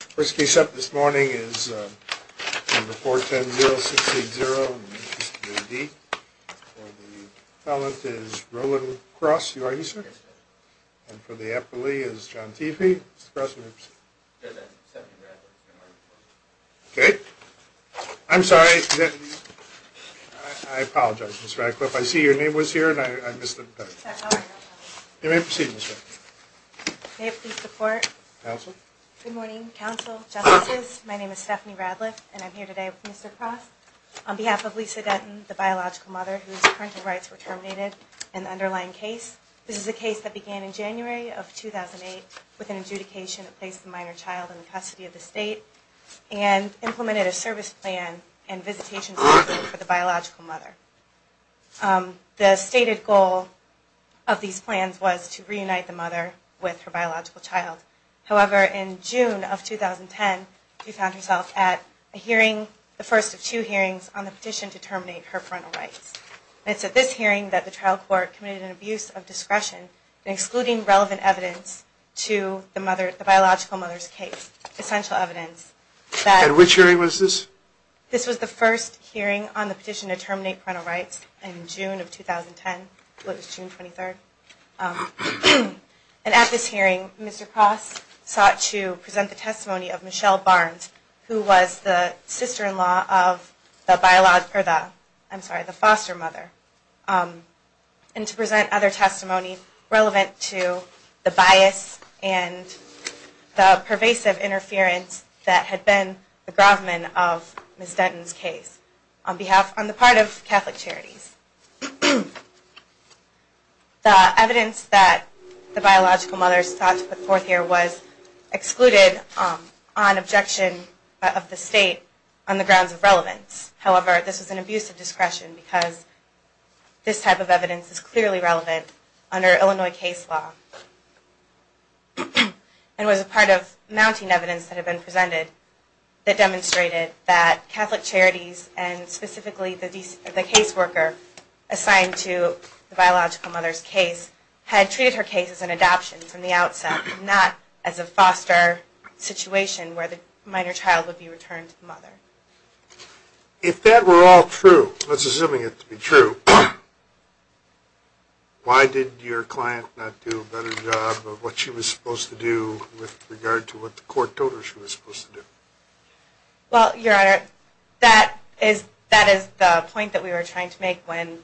First case up this morning is number 410-0680, in the interest of your A.D. For the appellant is Roland Cross. You are here, sir? Yes, sir. And for the appellee is John Teefee. Mr. Cross, may I proceed? Yes, I'm a second rather. Okay. I'm sorry. I apologize, Ms. Radcliffe. I see your name was here, and I missed it. You may proceed, Ms. Radcliffe. May I please report? Counsel? Good morning, counsel, justices. My name is Stephanie Radcliffe, and I'm here today with Mr. Cross. On behalf of Lisa Dutton, the biological mother, whose parental rights were terminated in the underlying case, this is a case that began in January of 2008 with an adjudication that placed the minor child in the custody of the state and implemented a service plan and visitation program for the biological mother. The stated goal of these plans was to reunite the mother with her biological child. However, in June of 2010, she found herself at a hearing, the first of two hearings, on the petition to terminate her parental rights. It's at this hearing that the trial court committed an abuse of discretion in excluding relevant evidence to the biological mother's case, essential evidence that... At which hearing was this? This was the first hearing on the petition to terminate parental rights in June of 2010. What was June 23rd? And at this hearing, Mr. Cross sought to present the testimony of Michelle Barnes, who was the sister-in-law of the biological... I'm sorry, the foster mother, and to present other testimony relevant to the bias and the pervasive interference that had been the gravamen of Ms. Dutton's case on behalf... on the part of Catholic Charities. The evidence that the biological mother sought to put forth here was excluded on objection of the state on the grounds of relevance. However, this was an abuse of discretion because this type of evidence is clearly relevant under Illinois case law and was a part of mounting evidence that had been presented that demonstrated that Catholic Charities, and specifically the case worker assigned to the biological mother's case, had treated her case as an adoption from the outset, not as a foster situation where the minor child would be returned to the mother. If that were all true, let's assume it to be true, why did your client not do a better job of what she was supposed to do with regard to what the court told her she was supposed to do? Well, Your Honor, that is the point that we were trying to make when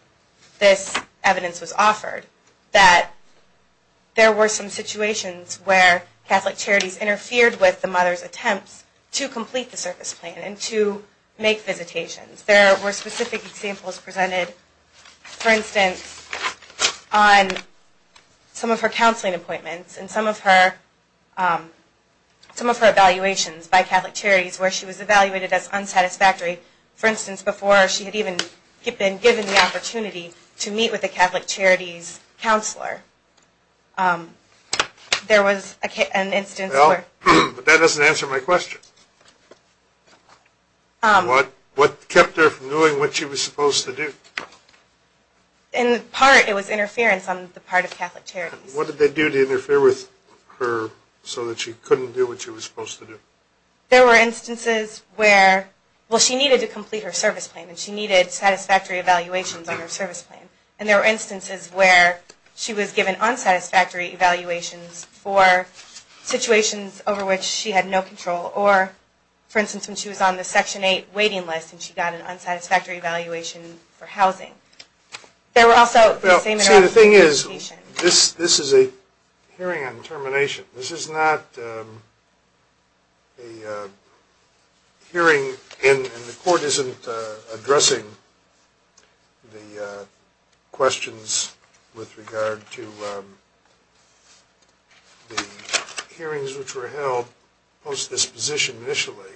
this evidence was offered, that there were some situations where Catholic Charities interfered with the mother's attempts to complete the service plan and to make visitations. There were specific examples presented, for instance, on some of her counseling appointments and some of her evaluations by Catholic Charities where she was evaluated as unsatisfactory, for instance, before she had even been given the opportunity to meet with a Catholic Charities counselor. Well, but that doesn't answer my question. What kept her from doing what she was supposed to do? In part, it was interference on the part of Catholic Charities. What did they do to interfere with her so that she couldn't do what she was supposed to do? There were instances where, well, she needed to complete her service plan, and she needed satisfactory evaluations on her service plan, and there were instances where she was given unsatisfactory evaluations for situations over which she had no control, or, for instance, when she was on the Section 8 waiting list and she got an unsatisfactory evaluation for housing. Well, see, the thing is, this is a hearing on termination. This is not a hearing, and the court isn't addressing the questions with regard to the hearings which were held post-disposition initially.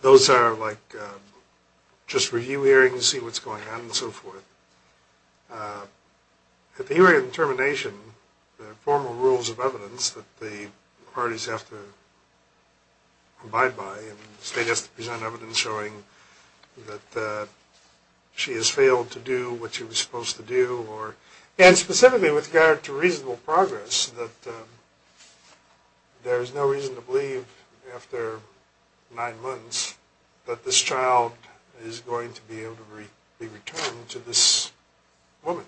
Those are like just review hearings, see what's going on, and so forth. At the hearing on termination, there are formal rules of evidence that the parties have to abide by, and the state has to present evidence showing that she has failed to do what she was supposed to do, and specifically with regard to reasonable progress, that there is no reason to believe after nine months that this child is going to be able to be returned to this woman.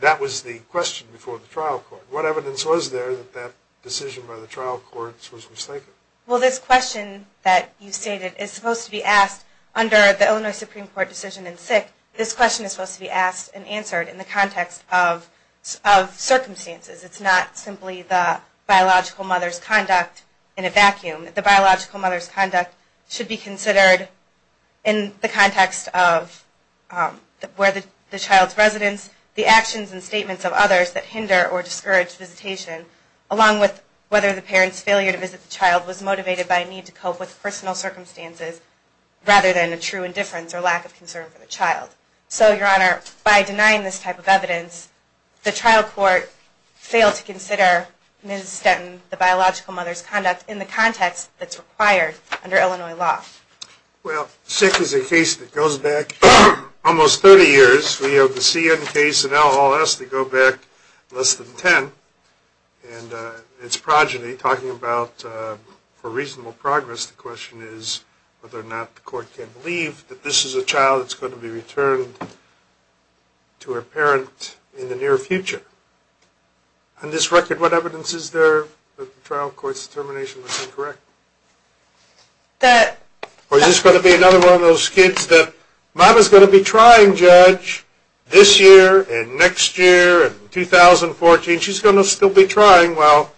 That was the question before the trial court. What evidence was there that that decision by the trial courts was mistaken? Well, this question that you stated is supposed to be asked under the Illinois Supreme Court decision in sick. This question is supposed to be asked and answered in the context of circumstances. It's not simply the biological mother's conduct in a vacuum. The biological mother's conduct should be considered in the context of where the child's residence, the actions and statements of others that hinder or discourage visitation, along with whether the parent's failure to visit the child was motivated by a need to cope with personal circumstances rather than a true indifference or lack of concern for the child. So, Your Honor, by denying this type of evidence, the trial court failed to consider Ms. Stenton, the biological mother's conduct, in the context that's required under Illinois law. Well, sick is a case that goes back almost 30 years. We have the CN case and LLS that go back less than 10. And it's progeny talking about, for reasonable progress, the question is whether or not the court can believe that this is a child that's going to be returned to a parent in the near future. On this record, what evidence is there that the trial court's determination was incorrect? Or is this going to be another one of those kids that, if I was going to be trying, Judge, this year and next year and 2014, she's going to still be trying while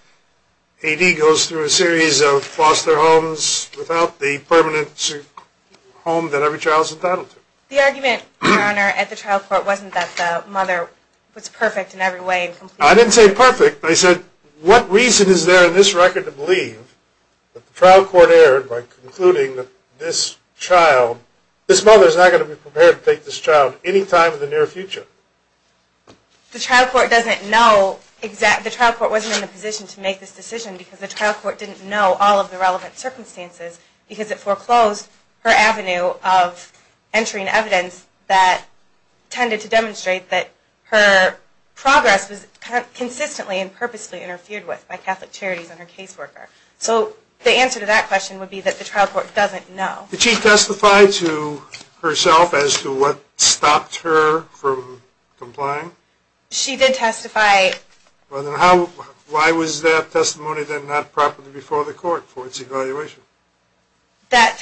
A.D. goes through a series of foster homes without the permanent home that every child's entitled to? The argument, Your Honor, at the trial court wasn't that the mother was perfect in every way. I didn't say perfect. I said, what reason is there in this record to believe that the trial court erred by concluding that this child, this mother is not going to be prepared to take this child any time in the near future? The trial court doesn't know exact, the trial court wasn't in a position to make this decision because the trial court didn't know all of the relevant circumstances because it foreclosed her avenue of entering evidence that tended to demonstrate that her progress was consistently and purposely interfered with by Catholic Charities and her caseworker. So the answer to that question would be that the trial court doesn't know. Did she testify to herself as to what stopped her from complying? She did testify. Why was that testimony then not properly before the court for its evaluation?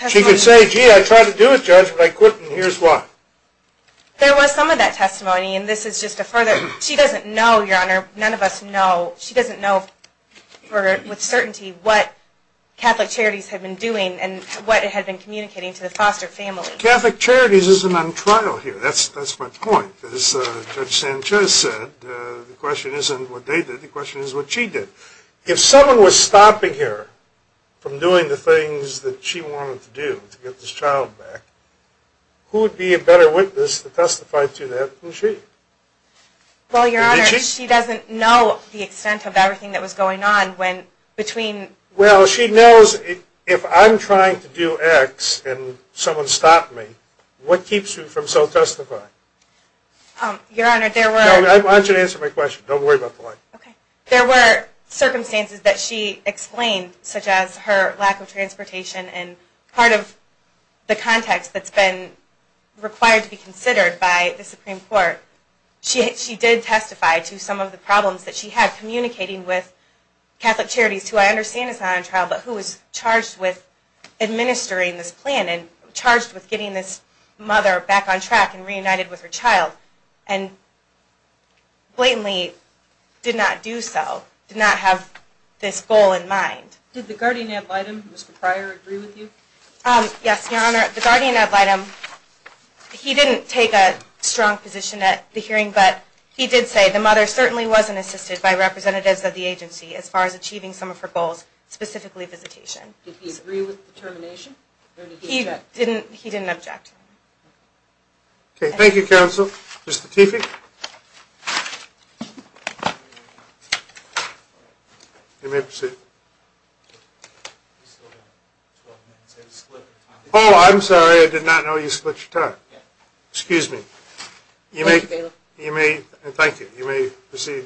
She could say, gee, I tried to do it, Judge, but I couldn't, and here's why. There was some of that testimony, and this is just a further, she doesn't know, Your Honor, she doesn't know with certainty what Catholic Charities had been doing and what it had been communicating to the foster family. Catholic Charities isn't on trial here, that's my point. As Judge Sanchez said, the question isn't what they did, the question is what she did. If someone was stopping her from doing the things that she wanted to do to get this child back, who would be a better witness to testify to that than she? Well, Your Honor, she doesn't know the extent of everything that was going on between... Well, she knows if I'm trying to do X and someone stopped me, what keeps you from self-testifying? Your Honor, there were... I want you to answer my question, don't worry about the line. Okay. There were circumstances that she explained, such as her lack of transportation and part of the context that's been required to be considered by the Supreme Court. She did testify to some of the problems that she had communicating with Catholic Charities, who I understand is not on trial, but who was charged with administering this plan and charged with getting this mother back on track and reunited with her child, and blatantly did not do so, did not have this goal in mind. Did the guardian ad litem, Mr. Pryor, agree with you? Yes, Your Honor, the guardian ad litem, he didn't take a strong position at the hearing, but he did say the mother certainly wasn't assisted by representatives of the agency as far as achieving some of her goals, specifically visitation. Did he agree with the termination, or did he object? He didn't object. Okay, thank you, counsel. Mr. Tiefik? Thank you. You may proceed. Oh, I'm sorry, I did not know you split your time. Excuse me. Thank you. You may proceed,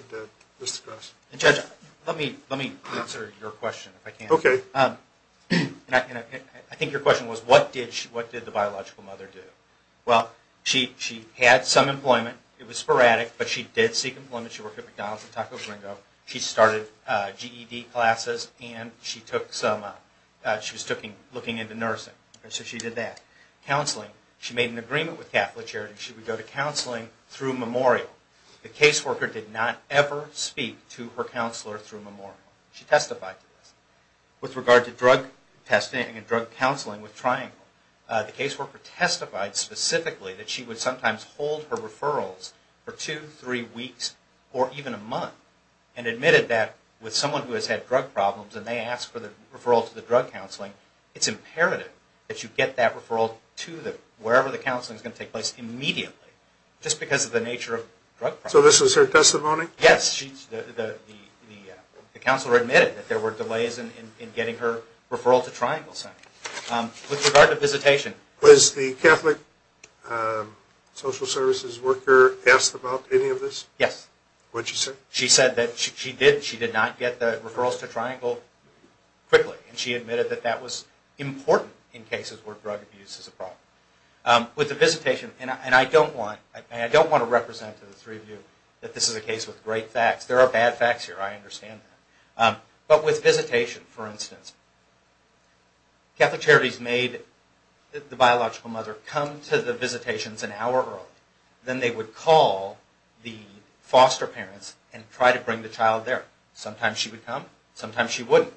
Mr. Cross. Judge, let me answer your question, if I can. Okay. I think your question was, what did the biological mother do? Well, she had some employment. It was sporadic, but she did seek employment. She worked at McDonald's and Taco Gringo. She started GED classes, and she was looking into nursing. So she did that. Counseling. She made an agreement with Catholic Charities. She would go to counseling through Memorial. The caseworker did not ever speak to her counselor through Memorial. She testified to this. With regard to drug testing and drug counseling with Triangle, the caseworker testified specifically that she would sometimes hold her referrals for two, three weeks, or even a month, and admitted that with someone who has had drug problems, and they asked for the referral to the drug counseling, it's imperative that you get that referral to wherever the counseling is going to take place immediately just because of the nature of drug problems. So this was her testimony? Yes. The counselor admitted that there were delays in getting her referral to Triangle Center. With regard to visitation. Was the Catholic social services worker asked about any of this? Yes. What did she say? She said that she did not get the referrals to Triangle quickly, and she admitted that that was important in cases where drug abuse is a problem. With the visitation, and I don't want to represent to the three of you that this is a case with great facts. There are bad facts here. I understand that. But with visitation, for instance, Catholic Charities made the biological mother come to the visitations an hour early. Then they would call the foster parents and try to bring the child there. Sometimes she would come. Sometimes she wouldn't.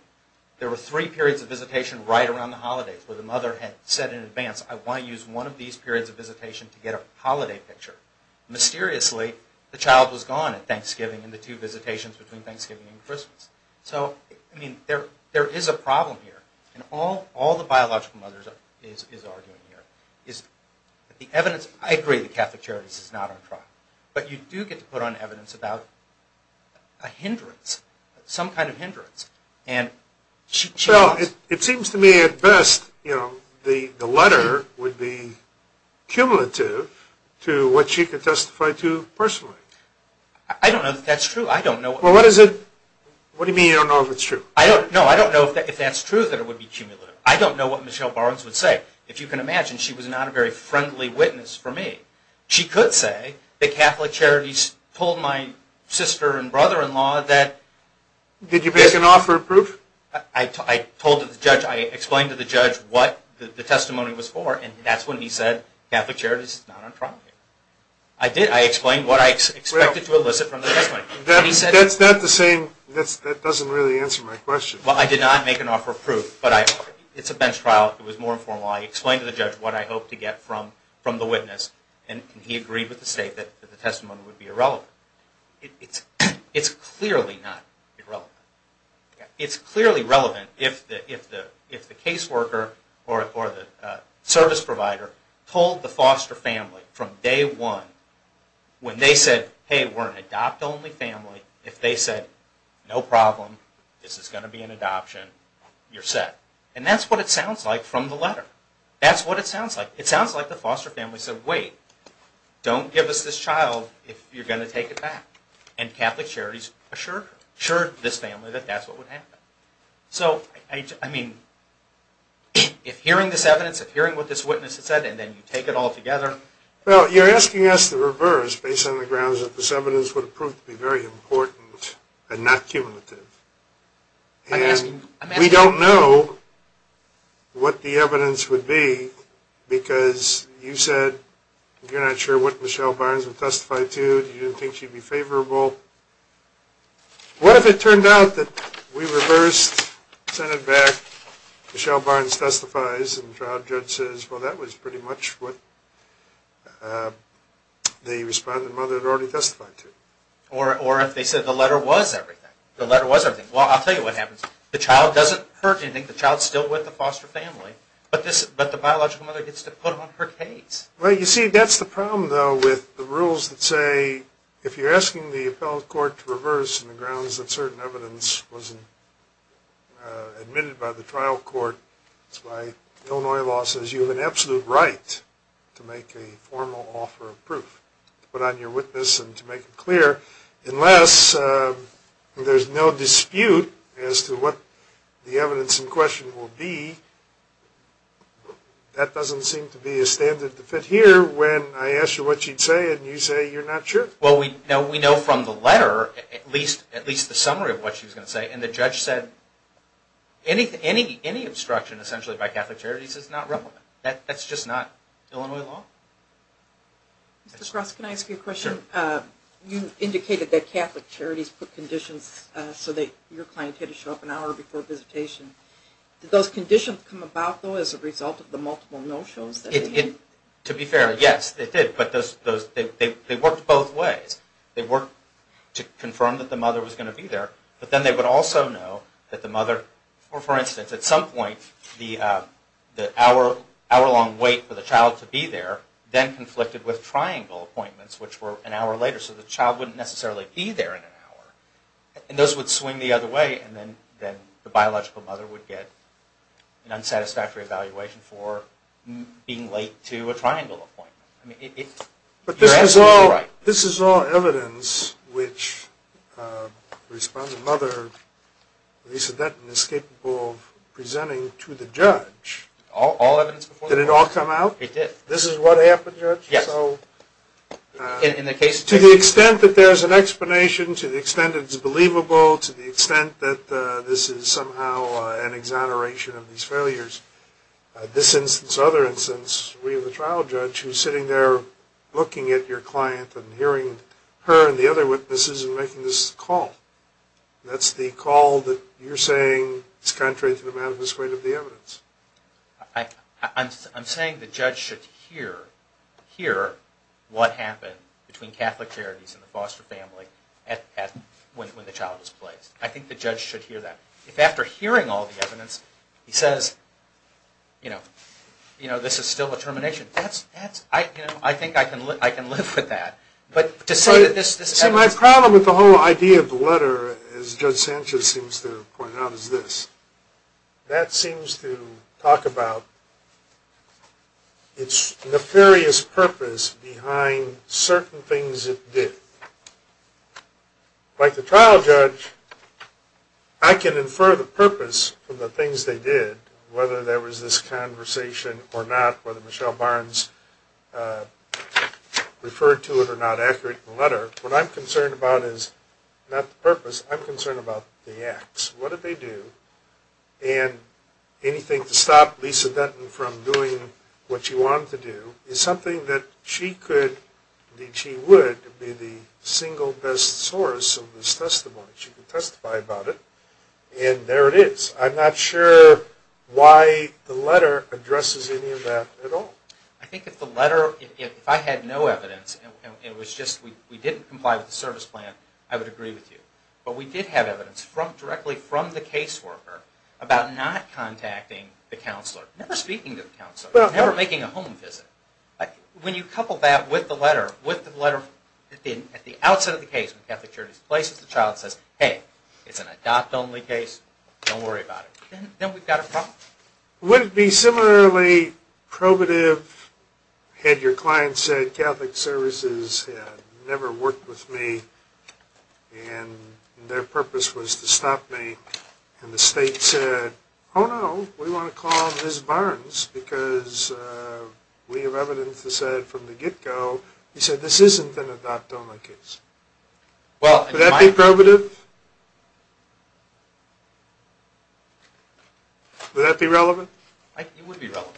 There were three periods of visitation right around the holidays where the mother had said in advance, I want to use one of these periods of visitation to get a holiday picture. Mysteriously, the child was gone at Thanksgiving and the two visitations between Thanksgiving and Christmas. So, I mean, there is a problem here. And all the biological mother is arguing here is that the evidence, I agree that Catholic Charities is not on trial. But you do get to put on evidence about a hindrance, some kind of hindrance. And she was. Well, it seems to me at best, you know, the letter would be cumulative to what she could testify to personally. I don't know that that's true. I don't know. Well, what is it? What do you mean you don't know if it's true? No, I don't know if that's true that it would be cumulative. I don't know what Michelle Barnes would say. If you can imagine, she was not a very friendly witness for me. She could say that Catholic Charities told my sister and brother-in-law that. Did you pass an offer of proof? I told the judge, I explained to the judge what the testimony was for, and that's when he said Catholic Charities is not on trial. I explained what I expected to elicit from the testimony. That's not the same. That doesn't really answer my question. Well, I did not make an offer of proof, but it's a bench trial. It was more informal. I explained to the judge what I hoped to get from the witness, and he agreed with the state that the testimony would be irrelevant. It's clearly not irrelevant. It's clearly relevant if the caseworker or the service provider told the foster family from day one when they said, hey, we're an adopt-only family. If they said, no problem, this is going to be an adoption, you're set. And that's what it sounds like from the letter. That's what it sounds like. It sounds like the foster family said, wait, don't give us this child if you're going to take it back. And Catholic Charities assured this family that that's what would happen. So, I mean, if hearing this evidence, if hearing what this witness said, and then you take it all together. Well, you're asking us to reverse based on the grounds that this evidence would prove to be very important and not cumulative. And we don't know what the evidence would be because you said you're not sure what Michelle Barnes would testify to. You didn't think she'd be favorable. What if it turned out that we reversed, sent it back, Michelle Barnes testifies, and the trial judge says, well, that was pretty much what the respondent mother had already testified to? Or if they said the letter was everything. The letter was everything. Well, I'll tell you what happens. The child doesn't hurt anything. The child's still with the foster family. But the biological mother gets to put on her case. Well, you see, that's the problem, though, with the rules that say if you're asking the appellate court to reverse on the grounds that certain evidence wasn't admitted by the trial court, that's why Illinois law says you have an absolute right to make a formal offer of proof, to put on your witness and to make it clear, unless there's no dispute as to what the evidence in question will be, that doesn't seem to be a standard to fit here when I ask you what she'd say and you say you're not sure. Well, we know from the letter at least the summary of what she was going to say, and the judge said any obstruction essentially by Catholic Charities is not relevant. That's just not Illinois law. Mr. Cross, can I ask you a question? Sure. You indicated that Catholic Charities put conditions so that your client had to show up an hour before visitation. Did those conditions come about, though, as a result of the multiple no-shows? To be fair, yes, they did. They worked both ways. They worked to confirm that the mother was going to be there, but then they would also know that the mother, for instance, at some point the hour-long wait for the child to be there then conflicted with triangle appointments, which were an hour later, so the child wouldn't necessarily be there in an hour. Those would swing the other way, and then the biological mother would get an But this is all evidence which the responding mother, Lisa Denton, is capable of presenting to the judge. All evidence before the judge? Did it all come out? It did. This is what happened, Judge? Yes. To the extent that there's an explanation, to the extent that it's believable, to the extent that this is somehow an exoneration of these failures, this instance, this other instance, we have a trial judge who's sitting there looking at your client and hearing her and the other witnesses and making this call. That's the call that you're saying is contrary to the manifest weight of the evidence. I'm saying the judge should hear what happened between Catholic charities and the foster family when the child was placed. I think the judge should hear that. If after hearing all the evidence he says, you know, this is still a termination, I think I can live with that. See, my problem with the whole idea of the letter, as Judge Sanchez seems to point out, is this. That seems to talk about its nefarious purpose behind certain things it did. Like the trial judge, I can infer the purpose of the things they did, whether there was this conversation or not, whether Michelle Barnes referred to it or not, accurate in the letter. What I'm concerned about is not the purpose, I'm concerned about the acts. What did they do? And anything to stop Lisa Denton from doing what she wanted to do is something that she could, and she would, be the single best source of this testimony. She could testify about it. And there it is. I'm not sure why the letter addresses any of that at all. I think if the letter, if I had no evidence and it was just we didn't comply with the service plan, I would agree with you. But we did have evidence directly from the caseworker about not contacting the counselor, never speaking to the counselor, never making a home visit. When you couple that with the letter, with the letter at the outset of the case when Catholic Charities replaces the child, it says, hey, it's an adopt only case, don't worry about it. Then we've got a problem. Would it be similarly probative had your client said Catholic Services had never worked with me and their purpose was to stop me, and the state said, oh, no, we want to call Ms. Barnes because we have evidence that said from the get go, you said this isn't an adopt only case. Would that be probative? Would that be relevant? It would be relevant.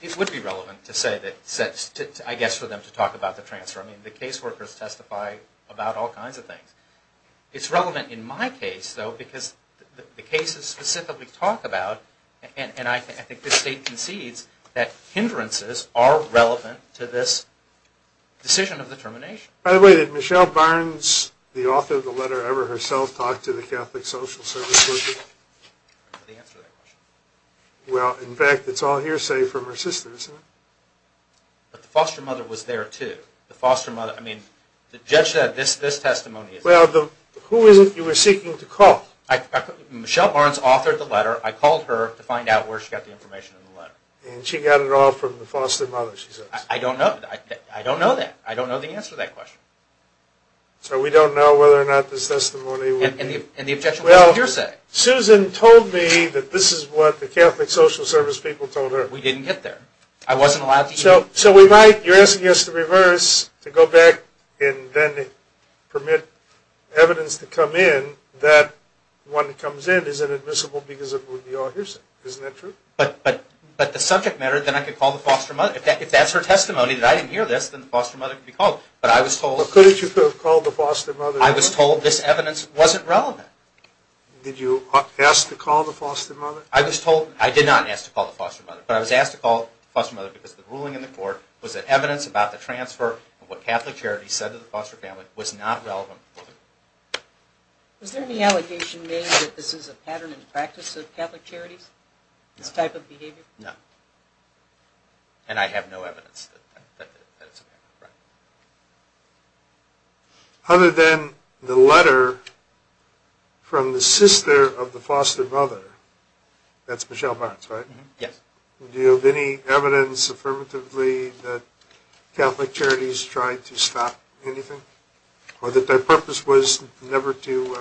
It would be relevant to say that, I guess, for them to talk about the transfer. I mean, the caseworkers testify about all kinds of things. It's relevant in my case, though, because the cases specifically talk about, and I think the state concedes, that hindrances are relevant to this decision of the termination. By the way, did Michelle Barnes, the author of the letter ever herself, talk to the Catholic Social Services? I don't know the answer to that question. Well, in fact, it's all hearsay from her sister, isn't it? But the foster mother was there, too. The foster mother. I mean, the judge said this testimony. Well, who is it you were seeking to call? Michelle Barnes authored the letter. I called her to find out where she got the information in the letter. And she got it all from the foster mother, she says. I don't know. I don't know that. I don't know the answer to that question. So we don't know whether or not this testimony would be. And the objection was hearsay. Well, Susan told me that this is what the Catholic Social Service people told her. We didn't get there. I wasn't allowed to. So we might. You're asking us to reverse, to go back and then permit evidence to come in, that one that comes in isn't admissible because it would be all hearsay. Isn't that true? But the subject matter, then I could call the foster mother. If that's her testimony, that I didn't hear this, then the foster mother could be called. But I was told. But couldn't you have called the foster mother? I was told this evidence wasn't relevant. Did you ask to call the foster mother? I was told. I did not ask to call the foster mother. But I was asked to call the foster mother because the ruling in the court was that evidence about the transfer of what Catholic Charities said to the foster family was not relevant. Was there any allegation made that this is a pattern and practice of Catholic Charities, this type of behavior? No. And I have no evidence that it's a pattern of practice. Other than the letter from the sister of the foster mother. That's Michelle Barnes, right? Yes. Do you have any evidence affirmatively that Catholic Charities tried to stop anything? Or that their purpose was never to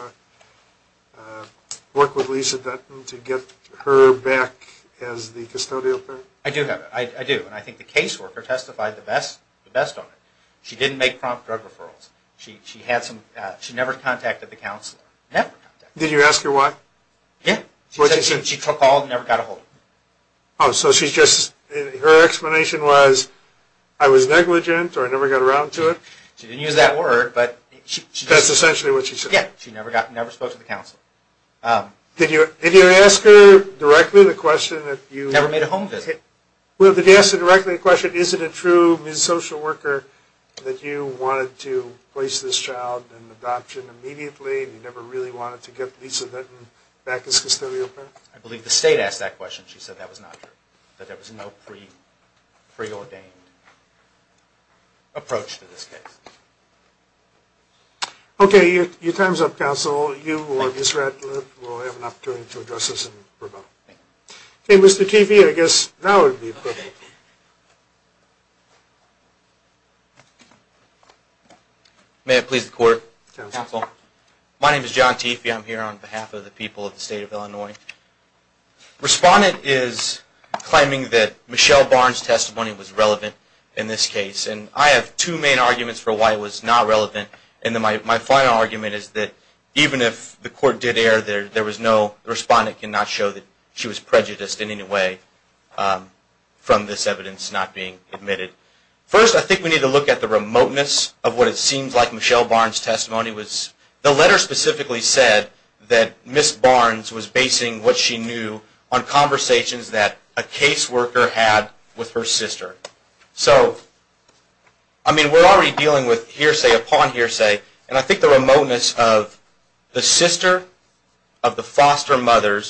work with Lisa Dutton to get her back as the custodial parent? I do have it. I do. And I think the caseworker testified the best on it. She didn't make prompt drug referrals. She never contacted the counselor. Never contacted. Did you ask her why? Yeah. She said she took all and never got a hold of it. So her explanation was, I was negligent or I never got around to it? She didn't use that word. That's essentially what she said? Yeah. She never spoke to the counselor. Did you ask her directly the question? Never made a home visit. Did you ask her directly the question, is it a true social worker that you wanted to place this child in adoption immediately and you never really wanted to get Lisa Dutton back as custodial parent? I believe the state asked that question. She said that was not true. That there was no preordained approach to this case. Okay. Your time is up, counsel. You or Ms. Ratliff will have an opportunity to address this in rebuttal. Thank you. Okay, Mr. Teefee, I guess now would be appropriate. May it please the court, counsel. My name is John Teefee. I'm here on behalf of the people of the state of Illinois. Respondent is claiming that Michelle Barnes' testimony was relevant in this case. And I have two main arguments for why it was not relevant. And my final argument is that even if the court did err, there was no, the respondent cannot show that she was prejudiced in any way from this evidence not being admitted. First, I think we need to look at the remoteness of what it seems like Michelle Barnes' testimony was. The letter specifically said that Ms. Barnes was basing what she knew on conversations that a caseworker had with her sister. So, I mean, we're already dealing with hearsay upon hearsay. And I think the remoteness of the sister of the foster mother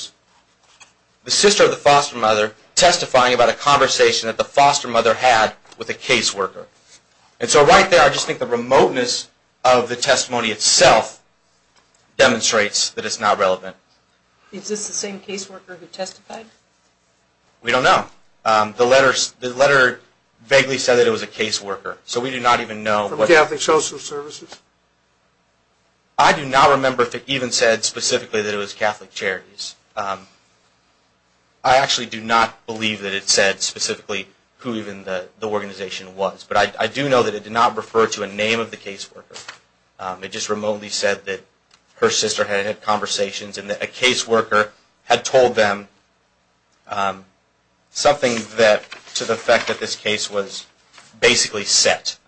testifying about a conversation that the foster mother had with a caseworker. And so right there I just think the remoteness of the testimony itself demonstrates that it's not relevant. Is this the same caseworker who testified? We don't know. The letter vaguely said that it was a caseworker. So we do not even know. From Catholic Social Services? I do not remember if it even said specifically that it was Catholic Charities. I actually do not believe that it said specifically who even the organization was. But I do know that it did not refer to a name of the caseworker. It just remotely said that her sister had had conversations and that a caseworker had told them something to the effect that this case was basically set.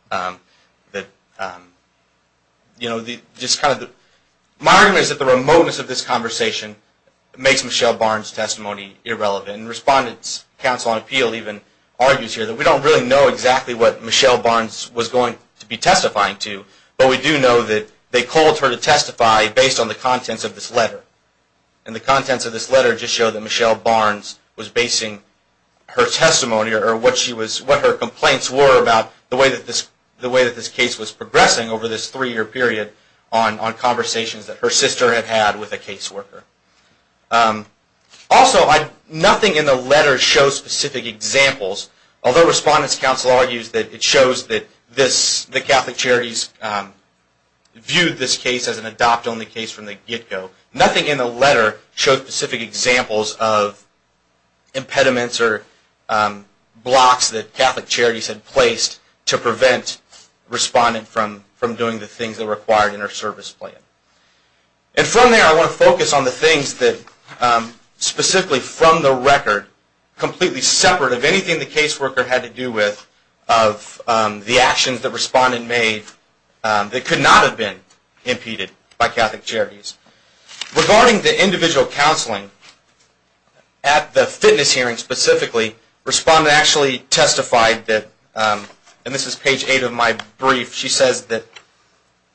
My argument is that the remoteness of this conversation makes Michelle Barnes' testimony irrelevant. And Respondents' Council on Appeal even argues here that we don't really know exactly what Michelle Barnes was going to be testifying to. But we do know that they called her to testify based on the contents of this letter. And the contents of this letter just show that Michelle Barnes was basing her testimony or what her complaints were about the way that this case was progressing over this three-year period on conversations that her sister had had with a caseworker. Also, nothing in the letter shows specific examples, although Respondents' Council argues that it shows that the Catholic Charities viewed this case as an adopt-only case from the get-go. Nothing in the letter shows specific examples of impediments or blocks that Catholic Charities had placed to prevent a respondent from doing the things that were required in her service plan. And from there, I want to focus on the things that, specifically from the record, completely separate of anything the caseworker had to do with of the actions that Respondent made that could not have been impeded by Catholic Charities. Regarding the individual counseling, at the fitness hearing specifically, Respondent actually testified that, and this is page 8 of my brief, she says that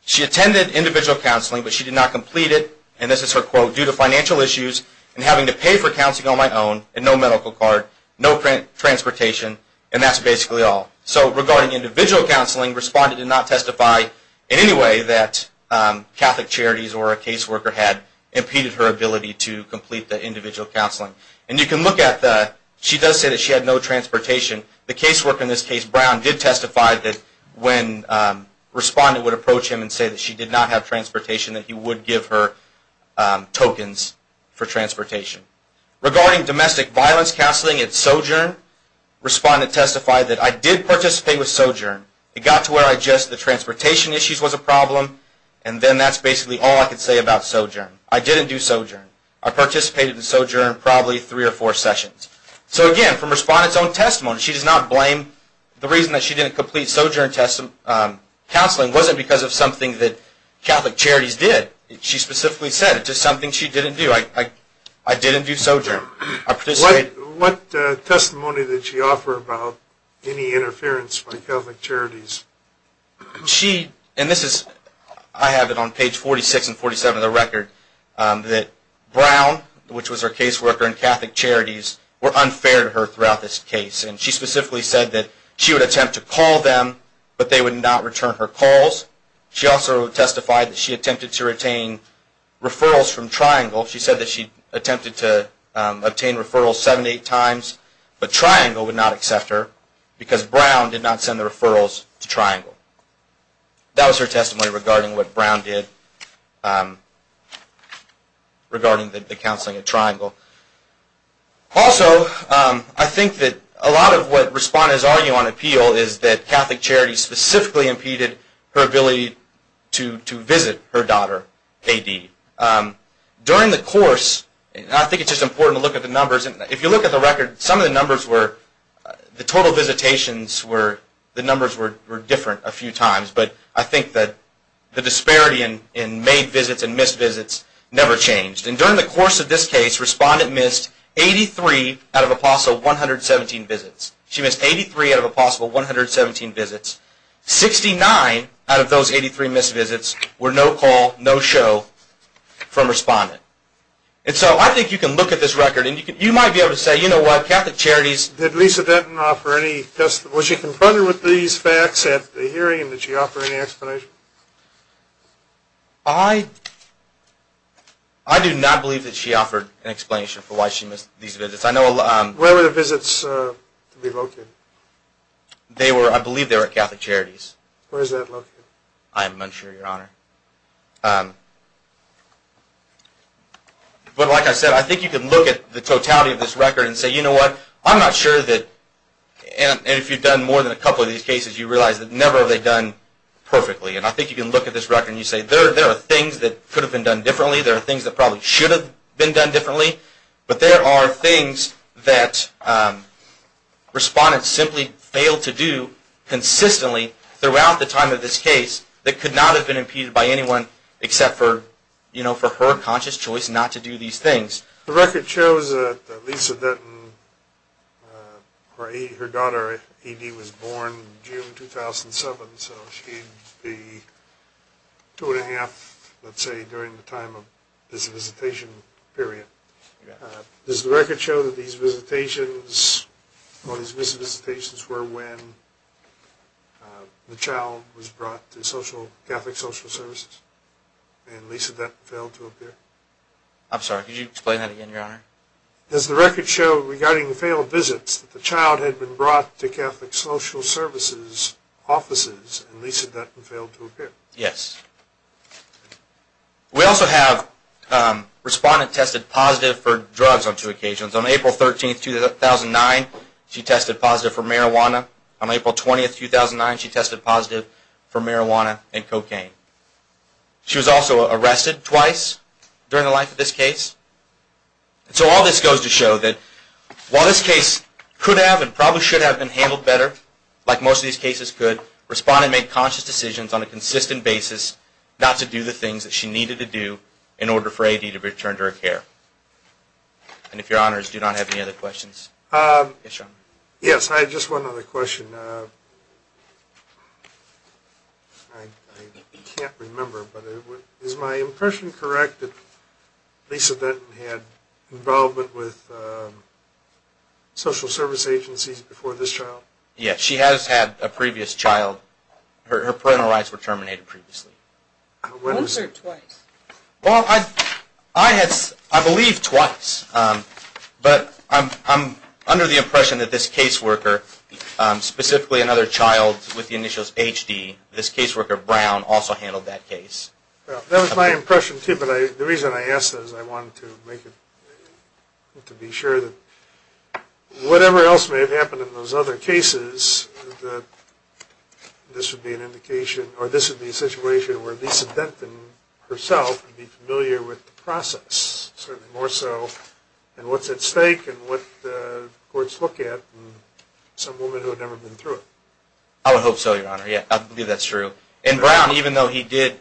she attended individual counseling, but she did not complete it, and this is her quote, due to financial issues, and having to pay for counseling on my own, and no medical card, no transportation, and that's basically all. So, regarding individual counseling, Respondent did not testify in any way that Catholic Charities or a caseworker had impeded her ability to complete the individual counseling. And you can look at the, she does say that she had no transportation. The caseworker in this case, Brown, did testify that when Respondent would approach him and she did not have transportation, that he would give her tokens for transportation. Regarding domestic violence counseling at sojourn, Respondent testified that, I did participate with sojourn. It got to where I just, the transportation issues was a problem, and then that's basically all I could say about sojourn. I didn't do sojourn. I participated in sojourn probably three or four sessions. So again, from Respondent's own testimony, she does not blame, the reason that she didn't complete sojourn counseling wasn't because of something that Catholic Charities did. She specifically said it was something she didn't do. I didn't do sojourn. What testimony did she offer about any interference by Catholic Charities? She, and this is, I have it on page 46 and 47 of the record, that Brown, which was her caseworker in Catholic Charities, were unfair to her throughout this case. And she specifically said that she would attempt to call them, but they would not return her calls. She also testified that she attempted to retain referrals from Triangle. She said that she attempted to obtain referrals seven to eight times, but Triangle would not accept her, because Brown did not send the referrals to Triangle. That was her testimony regarding what Brown did, regarding the counseling at Triangle. Also, I think that a lot of what Respondents argue on appeal is that Catholic Charities specifically impeded her ability to visit her daughter, KD. During the course, and I think it's just important to look at the numbers, if you look at the record, some of the numbers were, the total visitations were, the numbers were different a few times. But I think that the disparity in made visits and missed visits never changed. And during the course of this case, Respondent missed 83 out of a possible 117 visits. She missed 83 out of a possible 117 visits. 69 out of those 83 missed visits were no call, no show from Respondent. And so I think you can look at this record, and you might be able to say, you know what, Catholic Charities Did Lisa Denton offer any testimony, was she confronted with these facts at the hearing? Did she offer any explanation? I do not believe that she offered an explanation for why she missed these visits. Where were the visits located? I believe they were at Catholic Charities. Where is that located? I am unsure, Your Honor. But like I said, I think you can look at the totality of this record and say, you know what, I'm not sure that, and if you've done more than a couple of these cases, you realize that never have they done perfectly. And I think you can look at this record and you say, there are things that could have been done differently, there are things that probably should have been done differently, but there are things that Respondent simply failed to do consistently throughout the time of this case that could not have been impeded by anyone except for her conscious choice not to do these things. The record shows that Lisa Denton, her daughter Edie was born June 2007, so she'd be two and a half, let's say, during the time of this visitation period. Does the record show that these visitations were when the child was brought to Catholic Social Services I'm sorry, could you explain that again, Your Honor? Does the record show regarding the failed visits that the child had been brought to Catholic Social Services offices and Lisa Denton failed to appear? Yes. We also have Respondent tested positive for drugs on two occasions. On April 13, 2009, she tested positive for marijuana. She was also arrested twice during the life of this case. So all this goes to show that while this case could have and probably should have been handled better, like most of these cases could, Respondent made conscious decisions on a consistent basis not to do the things that she needed to do in order for Edie to return to her care. And if Your Honors do not have any other questions. Yes, I had just one other question. I can't remember, but is my impression correct that Lisa Denton had involvement with social service agencies before this child? Yes, she has had a previous child. Her parental rights were terminated previously. Once or twice? Well, I believe twice. But I'm under the impression that this caseworker, specifically another child with the initials HD, this caseworker, Brown, also handled that case. That was my impression too, but the reason I asked that is I wanted to be sure that whatever else may have happened in those other cases, that this would be an indication, or this would be a situation where Lisa Denton herself would be familiar with the process, certainly more so, and what's at stake and what the courts look at and some woman who had never been through it. I would hope so, Your Honor. I believe that's true. And Brown, even though he did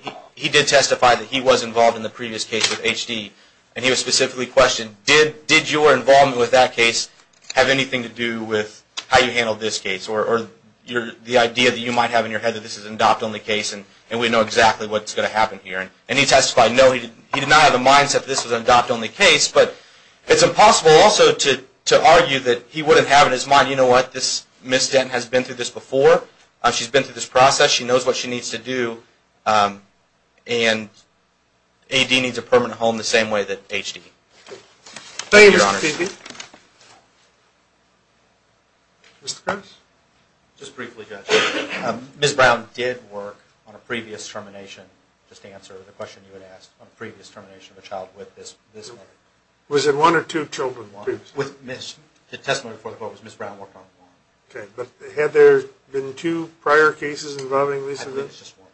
testify that he was involved in the previous case with HD, and he was specifically questioned, did your involvement with that case have anything to do with how you handled this case or the idea that you might have in your head that this is an adopt-only case and we know exactly what's going to happen here? And he testified, no, he did not have the mindset that this was an adopt-only case, but it's impossible also to argue that he wouldn't have in his mind, you know what, Miss Denton has been through this before. She's been through this process. She knows what she needs to do. And AD needs a permanent home the same way that HD. Thank you, Your Honor. Thank you, Mr. Peavy. Mr. Cox? Just briefly, Judge, Miss Brown did work on a previous termination, just to answer the question you had asked, on a previous termination of a child with this mother. Was it one or two children? With Miss, the testimony before the court was Miss Brown worked on one. Okay, but had there been two prior cases involving Lisa Denton? No, it was just one.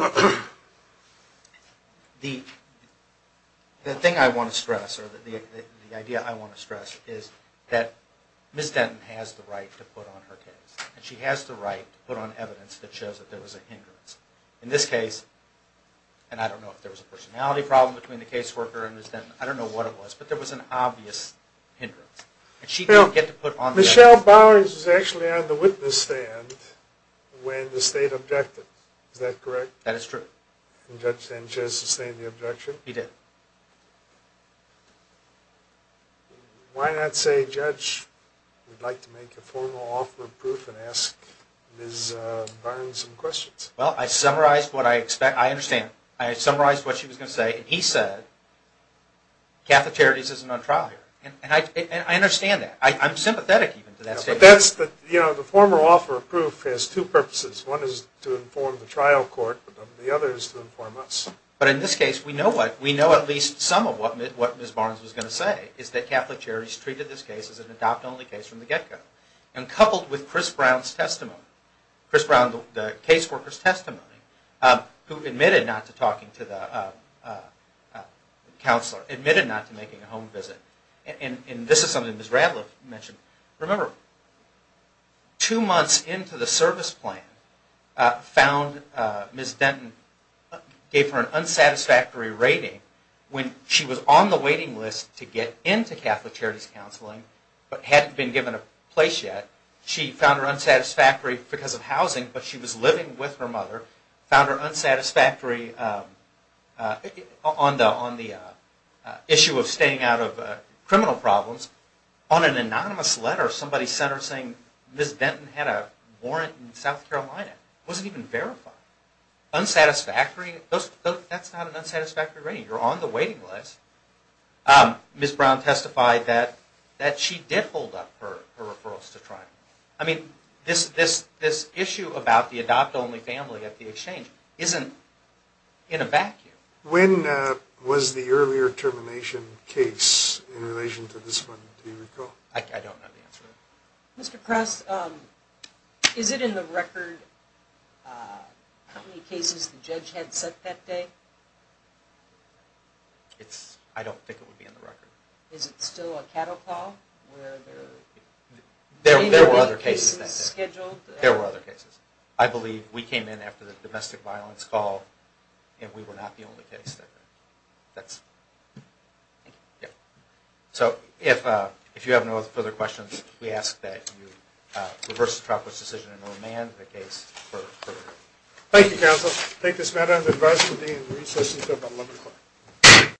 Okay. The thing I want to stress or the idea I want to stress is that Miss Denton has the right to put on her case and she has the right to put on evidence that shows that there was a hindrance. In this case, and I don't know if there was a personality problem between the caseworker and Miss Denton, I don't know what it was, but there was an obvious hindrance. And she didn't get to put on the evidence. Michelle Bowers was actually on the witness stand when the state objected. Is that correct? That is true. And Judge Sanchez sustained the objection? He did. Why not say, Judge, we'd like to make a formal offer of proof and ask Miss Barnes some questions? Well, I summarized what I expect. I understand. I summarized what she was going to say, and he said, catheterities isn't on trial here. And I understand that. I'm sympathetic even to that statement. The formal offer of proof has two purposes. One is to inform the trial court, but the other is to inform us. But in this case, we know at least some of what Miss Barnes was going to say, is that catheterities treated this case as an adopt-only case from the get-go. And coupled with Chris Brown's testimony, Chris Brown, the caseworker's testimony, who admitted not to talking to the counselor, admitted not to making a home visit, and this is something Miss Radliff mentioned. Remember, two months into the service plan, Miss Denton gave her an unsatisfactory rating when she was on the waiting list to get into catheterities counseling, but hadn't been given a place yet. She found her unsatisfactory because of housing, but she was living with her mother, found her unsatisfactory on the issue of staying out of criminal problems. On an anonymous letter, somebody sent her saying, Miss Denton had a warrant in South Carolina. It wasn't even verified. Unsatisfactory? That's not an unsatisfactory rating. You're on the waiting list. Miss Brown testified that she did hold up her referrals to trial. I mean, this issue about the adopt-only family at the exchange isn't in a vacuum. When was the earlier termination case in relation to this one, do you recall? I don't know the answer to that. Mr. Kress, is it in the record how many cases the judge had set that day? I don't think it would be in the record. Is it still a cattle call? There were other cases that day. Scheduled? There were other cases. I believe we came in after the domestic violence call, and we were not the only case that day. Thank you. So if you have no further questions, we ask that you reverse the trial court's decision and remand the case for further hearing. Thank you, counsel. I take this matter under the advisory of the Dean of the Research Institute of Alabama Court.